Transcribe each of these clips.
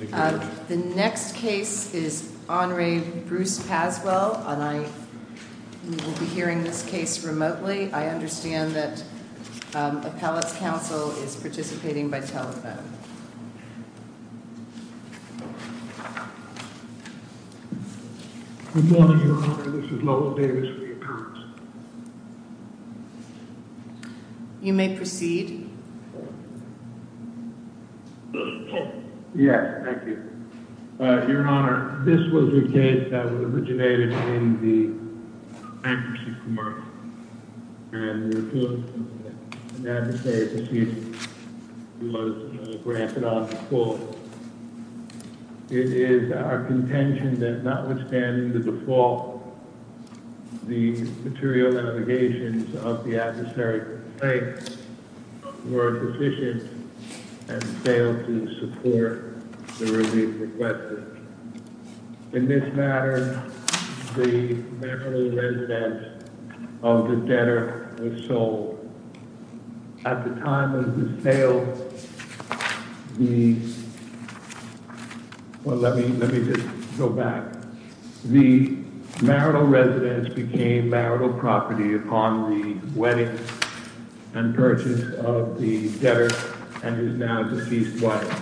Good morning Your Honor, this is Lowell Davis for the appearance. You may proceed. Yes, thank you. Your Honor, this was a case that was originated in the bankruptcy commerce and refusal to negotiate a decision was granted on the court. It is our contention that notwithstanding the default, the material allegations of the and failed to support the relief request. In this matter, the marital residence of the debtor was sold. At the time of the sale, the marital residence became marital property upon the wedding and and is now a deceased wife.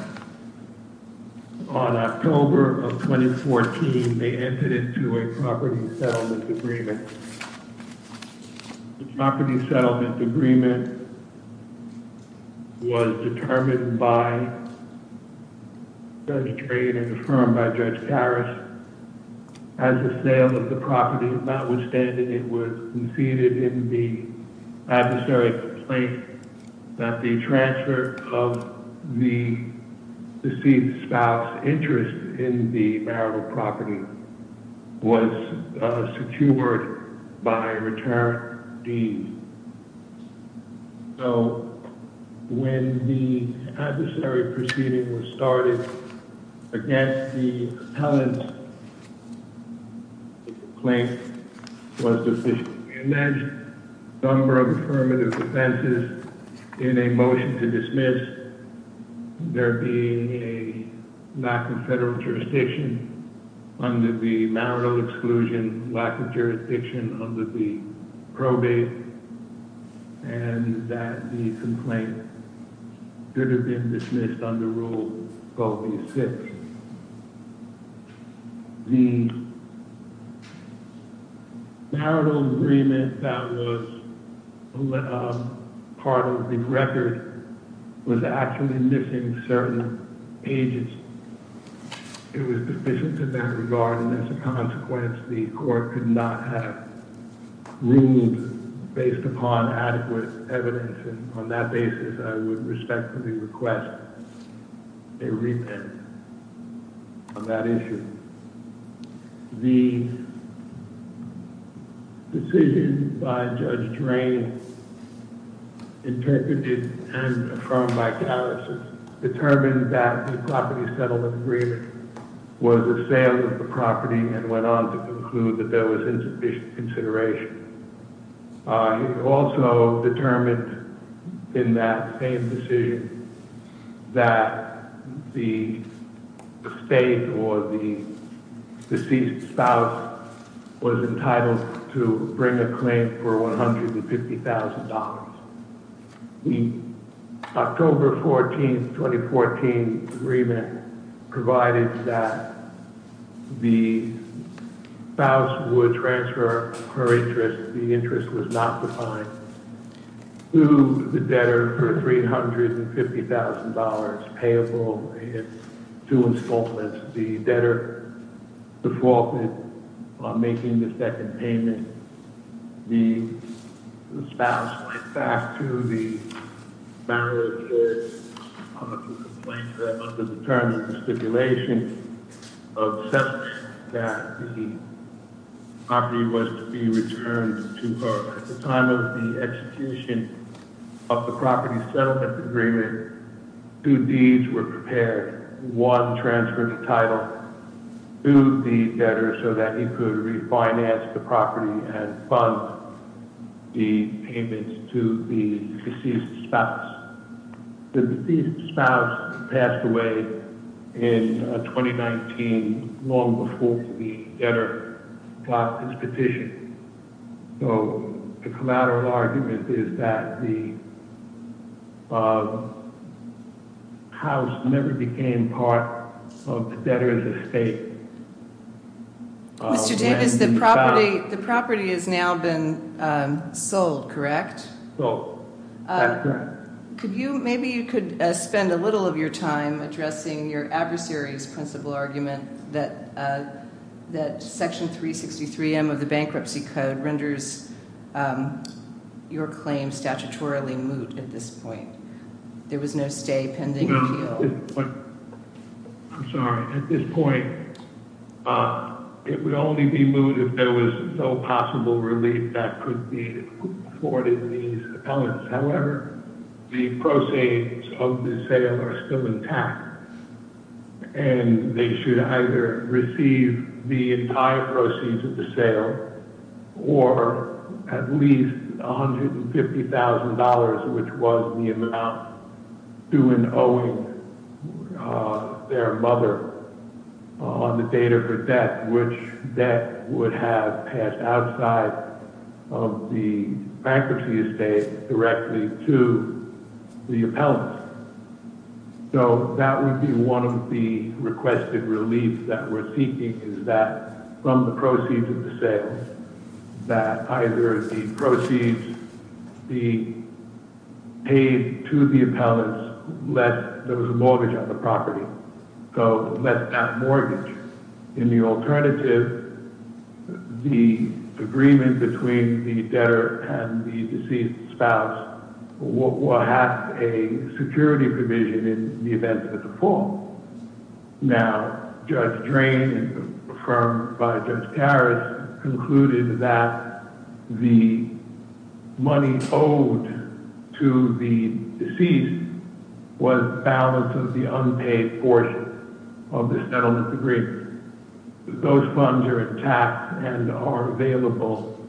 On October of 2014, they entered into a property settlement agreement. The property settlement agreement was determined by Judge Trey and confirmed by Judge Harris. At the sale of the property, notwithstanding, it was conceded in the adversary's complaint that the transfer of the deceased spouse's interest in the marital property was secured by a retired dean. So, when the adversary proceeding was started against the appellant, the complaint was officially enacted. A number of affirmative defenses in a motion to dismiss, there being a lack of federal and that the complaint could have been dismissed under Rule V. 6. The marital agreement that was part of the record was actually missing certain pages. It was deficient in that regard, and as a consequence, the court could not have ruled based upon adequate evidence. On that basis, I would respectfully request a repentance on that issue. The decision by Judge Trey, interpreted and affirmed by Harris, determined that the property settlement agreement was a sale of the property and went on to conclude that there was insufficient consideration. He also determined in that same decision that the estate or the deceased spouse was entitled to bring a claim for $150,000. The October 14, 2014 agreement provided that the spouse would transfer her interest, the interest was not defined, to the debtor for $350,000 payable in two installments. As the debtor defaulted on making the second payment, the spouse went back to the marriage and filed a complaint under the terms of stipulation of settlement that the property was to be returned to her. At the time of the execution of the property settlement agreement, two deeds were prepared. One transferred the title to the debtor so that he could refinance the property and fund the payments to the deceased spouse. The deceased spouse passed away in 2019, long before the debtor got his petition. So the collateral argument is that the house never became part of the debtor's estate. Mr. Davis, the property has now been sold, correct? Sold, that's correct. Maybe you could spend a little of your time addressing your adversary's principle argument that Section 363M of the Bankruptcy Code renders your claim statutorily moot at this point. There was no stay pending appeal. I'm sorry. At this point, it would only be moot if there was no possible relief that could be afforded these appellants. However, the proceeds of the sale are still intact, and they should either receive the entire proceeds of the sale or at least $150,000, which was the amount due in owing their mother on the date of her death, which debt would have passed outside of the bankruptcy estate directly to the appellant. So that would be one of the requested reliefs that we're seeking, is that from the proceeds of the sale, that either the proceeds be paid to the appellant, less there was a mortgage on the property. So less that mortgage. In the alternative, the agreement between the debtor and the deceased spouse will have a security provision in the event of a default. Now, Judge Drain, affirmed by Judge Harris, concluded that the money owed to the deceased was balance of the unpaid portion of the settlement agreement. Those funds are intact and are available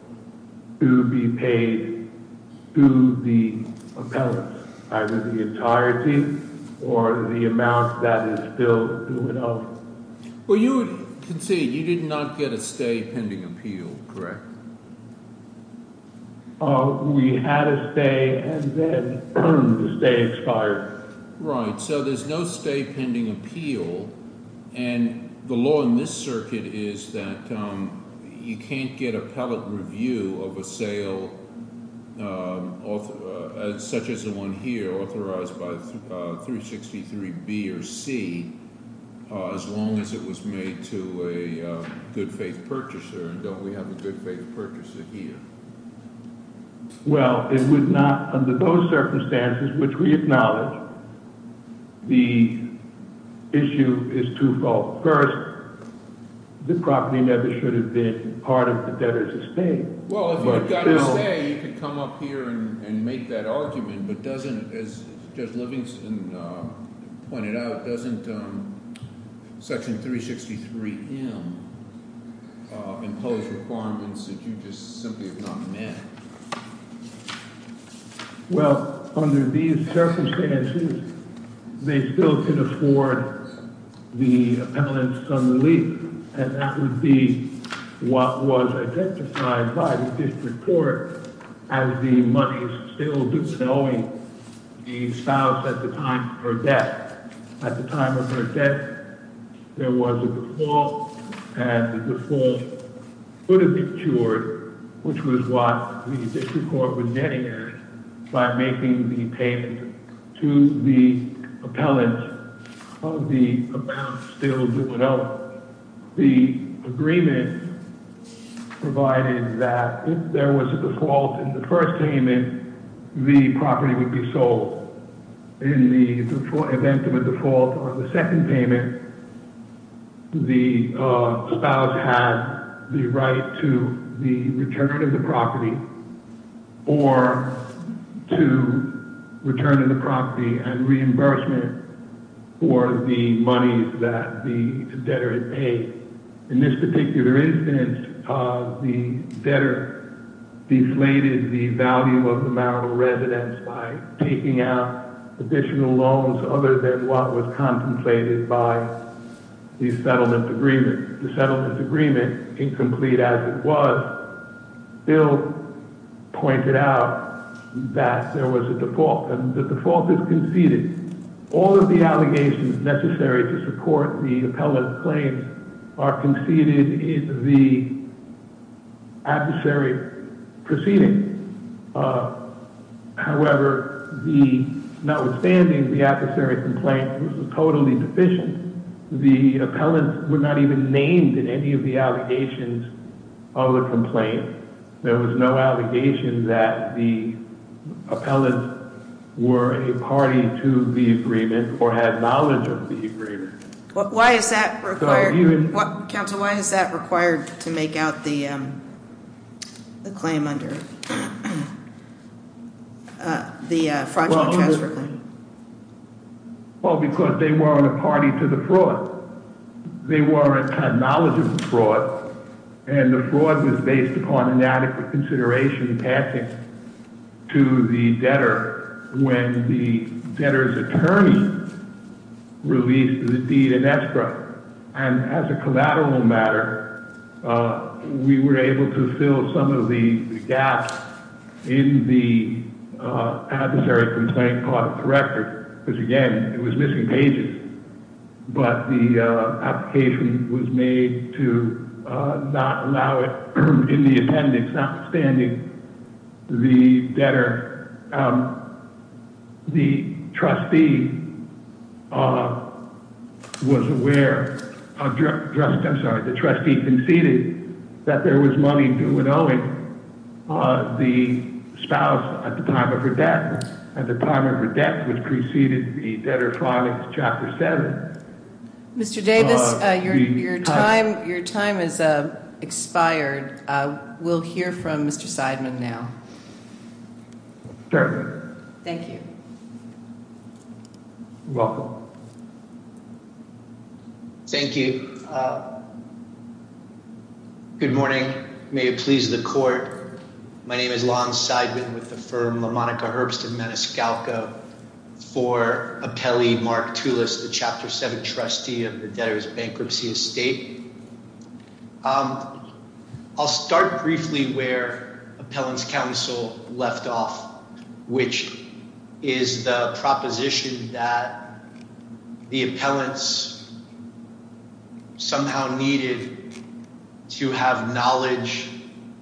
to be paid to the appellant, either the entirety or the amount that is still due in owing. Well, you concede you did not get a stay pending appeal, correct? We had a stay and then the stay expired. Right. So there's no stay pending appeal. And the law in this circuit is that you can't get appellate review of a sale such as the one here, authorized by 363B or C, as long as it was made to a good faith purchaser. And don't we have a good faith purchaser here? Well, it would not, under those circumstances, which we acknowledge, the issue is twofold. First, the property never should have been part of the debtor's estate. Well, if you had got a say, you could come up here and make that argument. But doesn't, as Judge Livingston pointed out, doesn't Section 363M impose requirements that you just simply have not met? Well, under these circumstances, they still could afford the appellant's unrelief. And that would be what was identified by the district court as the money still bestowing the spouse at the time of her death. At the time of her death, there was a default, and the default could have been cured, which was what the district court would netted by making the payment to the appellant of the amount still due. The agreement provided that if there was a default in the first payment, the property would be sold. In the event of a default on the second payment, the spouse had the right to the return of the property or to return of the property and reimbursement for the monies that the debtor had paid. In this particular instance, the debtor deflated the value of the marital residence by taking out additional loans other than what was contemplated by the settlement agreement. The settlement agreement, incomplete as it was, still pointed out that there was a default, and the default is conceded. All of the allegations necessary to support the appellant's claims are conceded in the adversary proceeding. However, notwithstanding the adversary complaint, which was totally deficient, the appellant was not even named in any of the allegations of the complaint. There was no allegation that the appellant were a party to the agreement or had knowledge of the agreement. Why is that required? Counsel, why is that required to make out the claim under the fraudulent transfer claim? Well, because they weren't a party to the fraud. They weren't acknowledging the fraud, and the fraud was based upon inadequate consideration and tactics to the debtor when the debtor's attorney released the deed in extra. And as a collateral matter, we were able to fill some of the gaps in the adversary complaint part of the record, because, again, it was missing pages. But the application was made to not allow it in the appendix, notwithstanding the debtor. The trustee was aware—I'm sorry, the trustee conceded that there was money to an owing. The spouse, at the time of her death, which preceded the debtor filing Chapter 7— Mr. Davis, your time has expired. We'll hear from Mr. Seidman now. Certainly. Thank you. You're welcome. Thank you. Good morning. May it please the court. My name is Lon Seidman with the firm LaMonica Herbst & Menescalco for appellee Mark Tulis, the Chapter 7 trustee of the debtor's bankruptcy estate. I'll start briefly where appellant's counsel left off, which is the proposition that the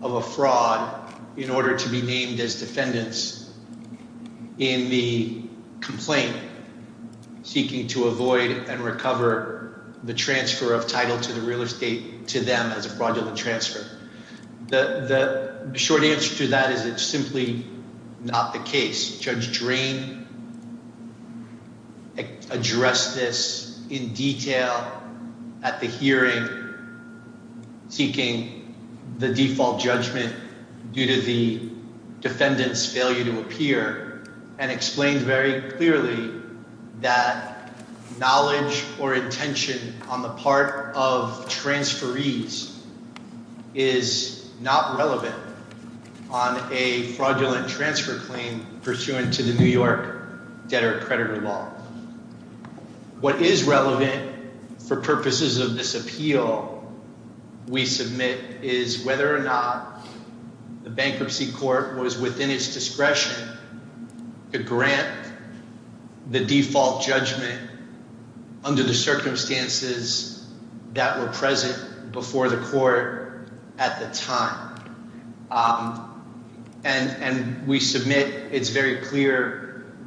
of a fraud in order to be named as defendants in the complaint seeking to avoid and recover the transfer of title to the real estate to them as a fraudulent transfer. The short answer to that is it's simply not the case. Judge Drain addressed this in detail at the hearing seeking the default judgment due to the defendant's failure to appear and explained very clearly that knowledge or intention on the part of transferees is not relevant on a fraudulent transfer claim pursuant to the New York debtor-creditor law. What is relevant for purposes of this appeal we submit is whether or not the bankruptcy court was within its discretion to grant the default judgment under the circumstances that were present before the court at the time. And we submit it's very clear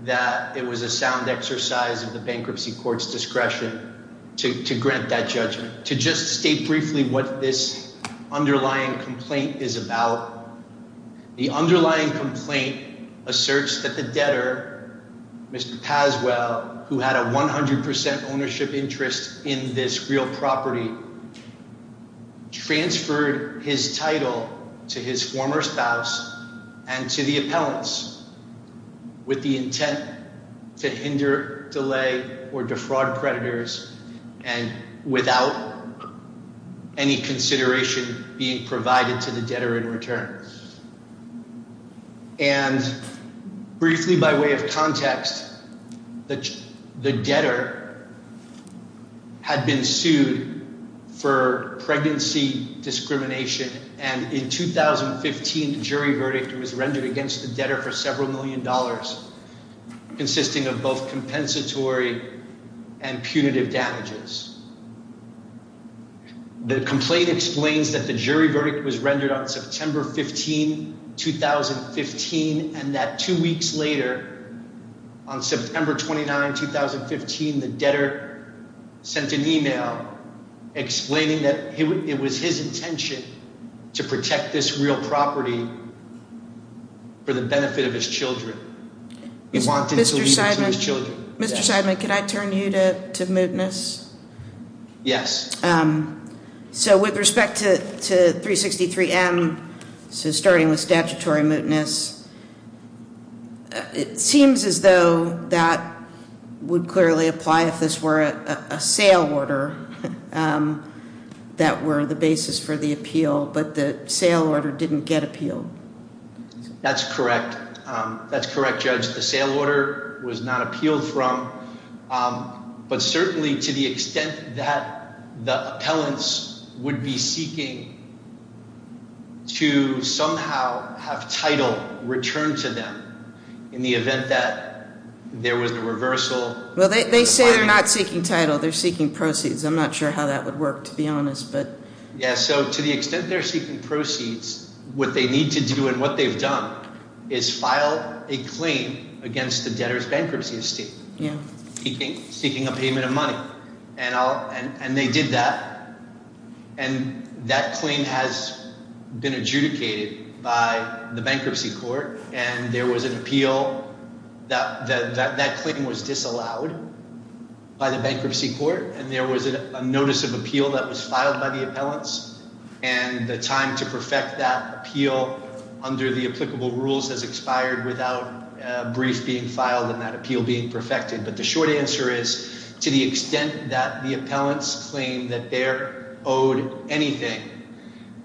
that it was a sound exercise of the bankruptcy court's discretion to grant that judgment. To just state briefly what this underlying complaint is about. The underlying complaint asserts that the debtor, Mr. Paswell, who had a 100% ownership interest in this real property, transferred his title to his former spouse and to the appellants with the intent to hinder, delay, or defraud creditors and without any consideration being provided to the debtor in return. And briefly by way of context, the debtor had been sued for pregnancy discrimination and in 2015 the jury verdict was rendered against the debtor for several million dollars consisting of both compensatory and punitive damages. The complaint explains that the jury verdict was rendered on September 15, 2015 and that two weeks later, on September 29, 2015, the debtor sent an email explaining that it was his intention to protect this real property for the benefit of his children. He wanted to leave it to his children. Mr. Seidman, can I turn you to mootness? Yes. So with respect to 363M, starting with statutory mootness, it seems as though that would clearly apply if this were a sale order that were the basis for the appeal, but the sale order didn't get appealed. That's correct. That's correct, Judge. The sale order was not appealed from, but certainly to the extent that the appellants would be seeking to somehow have title returned to them in the event that there was a reversal. Well, they say they're not seeking title. They're seeking proceeds. I'm not sure how that would work, to be honest. Yes, so to the extent they're seeking proceeds, what they need to do and what they've done is file a claim against the debtor's bankruptcy estate, seeking a payment of money. And they did that, and that claim has been adjudicated by the bankruptcy court, and there was an appeal that that claim was disallowed by the bankruptcy court, and there was a notice of appeal that was filed by the appellants, and the time to perfect that appeal under the applicable rules has expired without a brief being filed and that appeal being perfected. But the short answer is to the extent that the appellants claim that they're owed anything,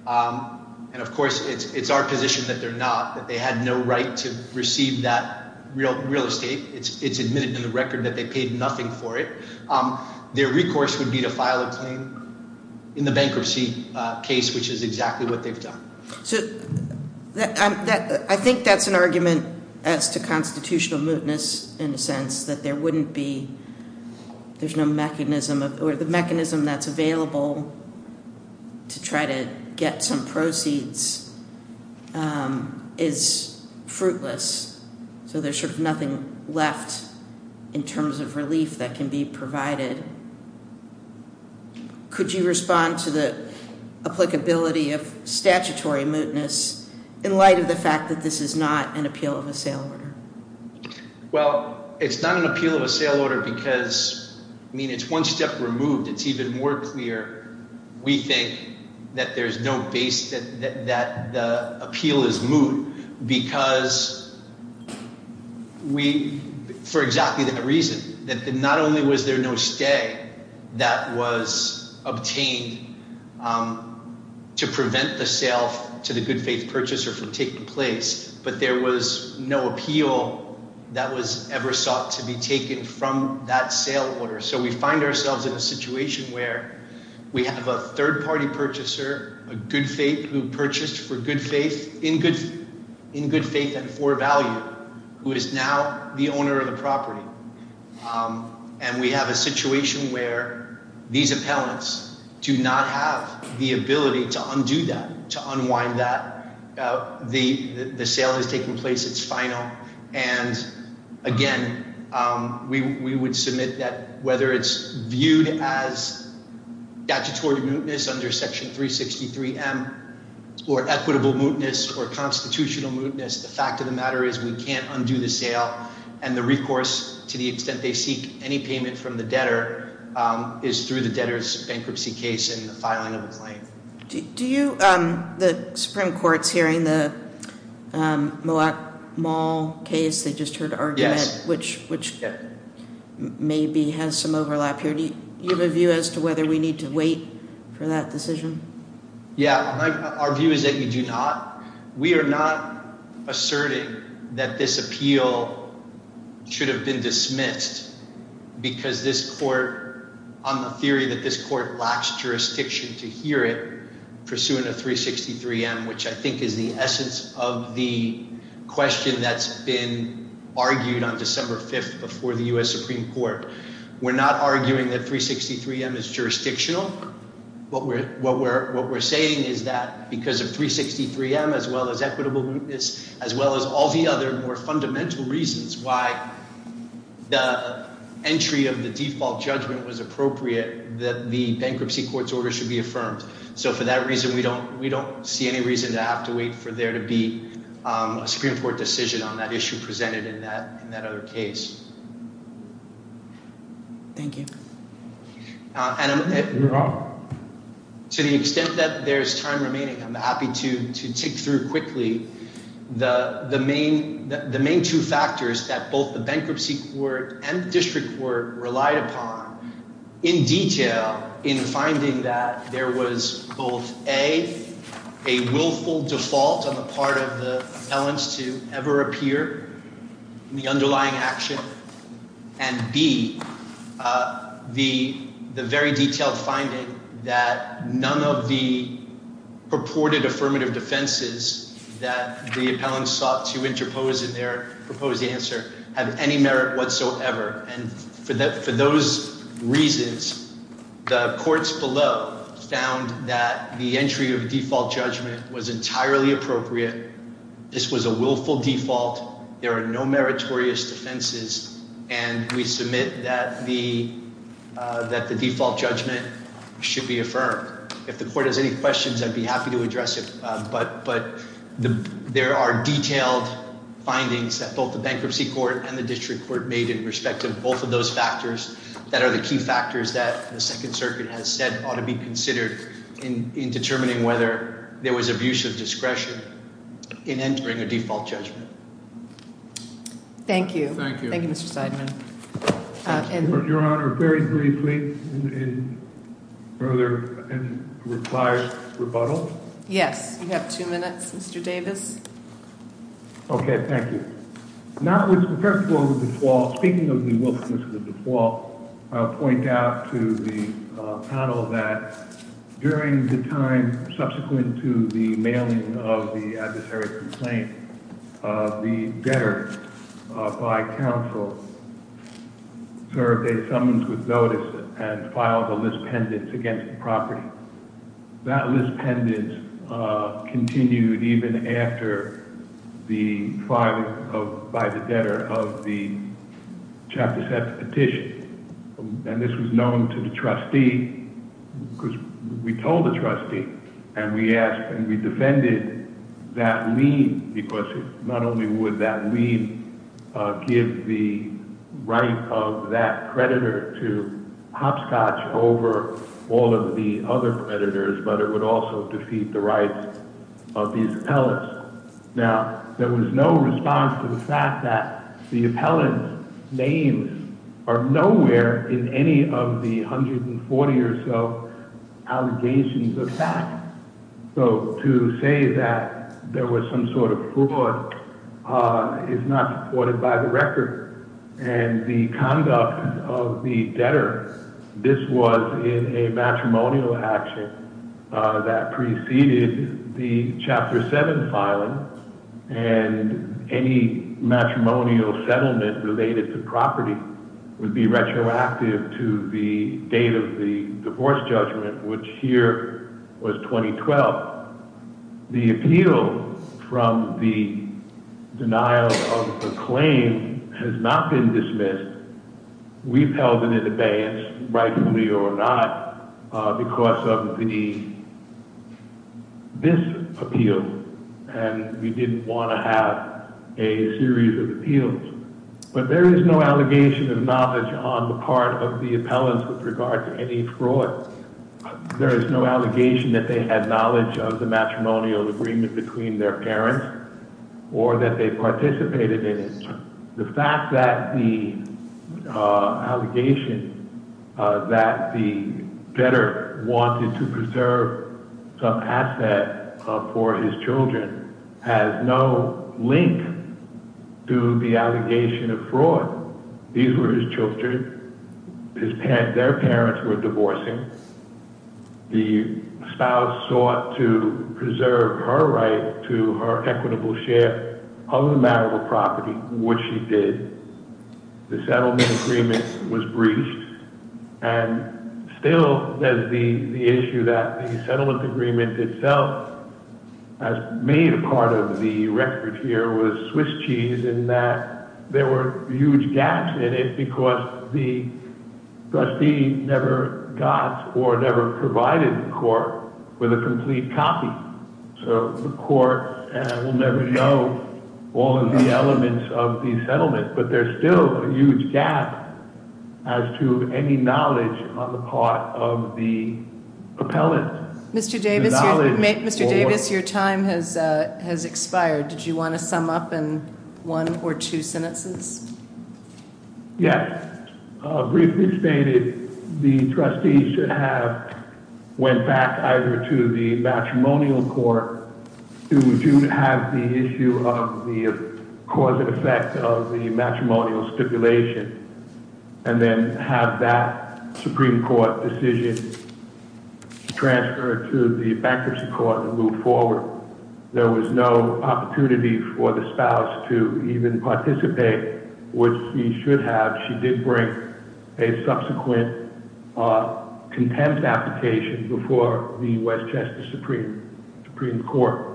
and of course it's our position that they're not, that they had no right to receive that real estate. It's admitted in the record that they paid nothing for it. Their recourse would be to file a claim in the bankruptcy case, which is exactly what they've done. So I think that's an argument as to constitutional mootness in the sense that there wouldn't be, there's no mechanism, or the mechanism that's available to try to get some proceeds is fruitless, so there's sort of nothing left in terms of relief that can be provided. Could you respond to the applicability of statutory mootness in light of the fact that this is not an appeal of assailant? Well, it's not an appeal of assailant because, I mean, it's one step removed. It's even more clear, we think, that there's no base, that the appeal is moot because we, for exactly that reason, that not only was there no stay that was obtained to prevent the sale to the good-faith purchaser from taking place, but there was no appeal that was ever sought to be taken from that sale order. So we find ourselves in a situation where we have a third-party purchaser, a good-faith who purchased for good faith, in good faith and for value, who is now the owner of the property. And we have a situation where these appellants do not have the ability to undo that, to unwind that. The sale is taking place. It's final. And, again, we would submit that whether it's viewed as statutory mootness under Section 363M or equitable mootness or constitutional mootness, the fact of the matter is we can't undo the sale. And the recourse, to the extent they seek any payment from the debtor, is through the debtor's bankruptcy case and the filing of a claim. Do you, the Supreme Court's hearing the Moak Mall case, they just heard argument, which maybe has some overlap here. Do you have a view as to whether we need to wait for that decision? Yeah. Our view is that we do not. We are not asserting that this appeal should have been dismissed because this court, on the theory that this court lacks jurisdiction to hear it, pursuing a 363M, which I think is the essence of the question that's been argued on December 5th before the U.S. Supreme Court. We're not arguing that 363M is jurisdictional. What we're saying is that because of 363M, as well as equitable mootness, as well as all the other more fundamental reasons why the entry of the default judgment was appropriate, that the bankruptcy court's order should be affirmed. So, for that reason, we don't see any reason to have to wait for there to be a Supreme Court decision on that issue presented in that other case. Thank you. You're welcome. To the extent that there's time remaining, I'm happy to tick through quickly the main two factors that both the bankruptcy court and the district court relied upon in detail in finding that there was both A, a willful default on the part of the appellants to ever appear in the underlying action, and B, the very detailed finding that none of the purported affirmative defenses that the appellants sought to interpose in their proposed answer have any merit whatsoever. And for those reasons, the courts below found that the entry of default judgment was entirely appropriate. This was a willful default. There are no meritorious defenses. And we submit that the default judgment should be affirmed. If the court has any questions, I'd be happy to address it. But there are detailed findings that both the bankruptcy court and the district court made in respect of both of those factors that are the key factors that the Second Circuit has said ought to be considered in determining whether there was abuse of discretion in entering a default judgment. Thank you. Thank you, Mr. Seidman. Your Honor, very briefly in further and required rebuttal. Yes. You have two minutes, Mr. Davis. Okay. Thank you. First of all, speaking of the willfulness of the default, I'll point out to the panel that during the time subsequent to the mailing of the adversary complaint, the debtor by counsel served a summons with notice and filed a list pendant against the property. That list pendant continued even after the filing by the debtor of the Chapter 7 petition. And this was known to the trustee. Because we told the trustee and we asked and we defended that lien because not only would that lien give the right of that creditor to hopscotch over all of the other creditors, but it would also defeat the rights of these appellants. Now, there was no response to the fact that the appellant's names are nowhere in any of the 140 or so allegations of fact. So to say that there was some sort of fraud is not supported by the record. And the conduct of the debtor, this was in a matrimonial action that preceded the Chapter 7 filing, and any matrimonial settlement related to property would be retroactive to the date of the divorce judgment, which here was 2012. But the appeal from the denial of the claim has not been dismissed. We've held it in abeyance, rightfully or not, because of this appeal. And we didn't want to have a series of appeals. But there is no allegation of knowledge on the part of the appellants with regard to any fraud. There is no allegation that they had knowledge of the matrimonial agreement between their parents or that they participated in it. The fact that the allegation that the debtor wanted to preserve some asset for his children has no link to the allegation of fraud. These were his children. Their parents were divorcing. The spouse sought to preserve her right to her equitable share of the matrimonial property, which she did. The settlement agreement was breached. And still there's the issue that the settlement agreement itself has made part of the record here with Swiss cheese in that there were huge gaps in it because the trustee never got or never provided the court with a complete copy. So the court will never know all of the elements of the settlement. But there's still a huge gap as to any knowledge on the part of the appellant. Mr. Davis, your time has expired. Did you want to sum up in one or two sentences? Yes. Briefly stated, the trustee should have went back either to the matrimonial court to have the issue of the cause and effect of the matrimonial stipulation and then have that Supreme Court decision transferred to the bankruptcy court and move forward. There was no opportunity for the spouse to even participate, which she should have. She did bring a subsequent contempt application before the U.S. Justice Supreme Court.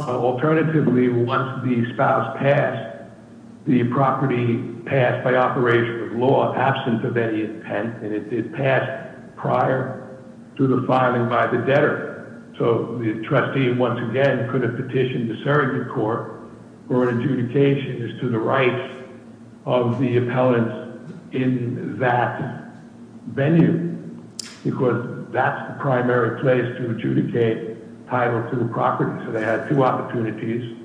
Alternatively, once the spouse passed, the property passed by operation of law, absent of any intent, and it did pass prior to the filing by the debtor. So the trustee, once again, could have petitioned the surrogate court for an adjudication as to the rights of the appellant in that venue because that's the primary place to adjudicate title to the property. So they had two opportunities.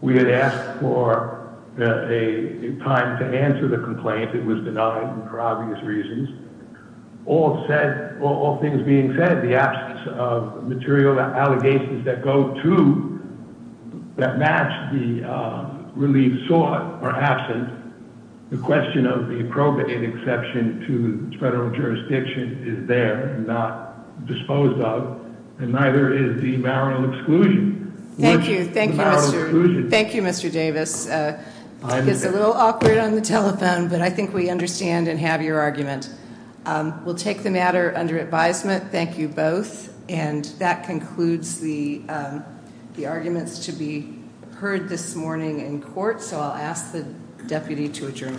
We had asked for a time to answer the complaint. It was denied for obvious reasons. All things being said, the absence of material allegations that go to that match the relief sought are absent. The question of the appropriate exception to federal jurisdiction is there and not disposed of, and neither is the marital exclusion. Thank you. Thank you, Mr. Davis. It's a little awkward on the telephone, but I think we understand and have your argument. We'll take the matter under advisement. Thank you both. And that concludes the arguments to be heard this morning in court. So I'll ask the deputy to adjourn. Thank you.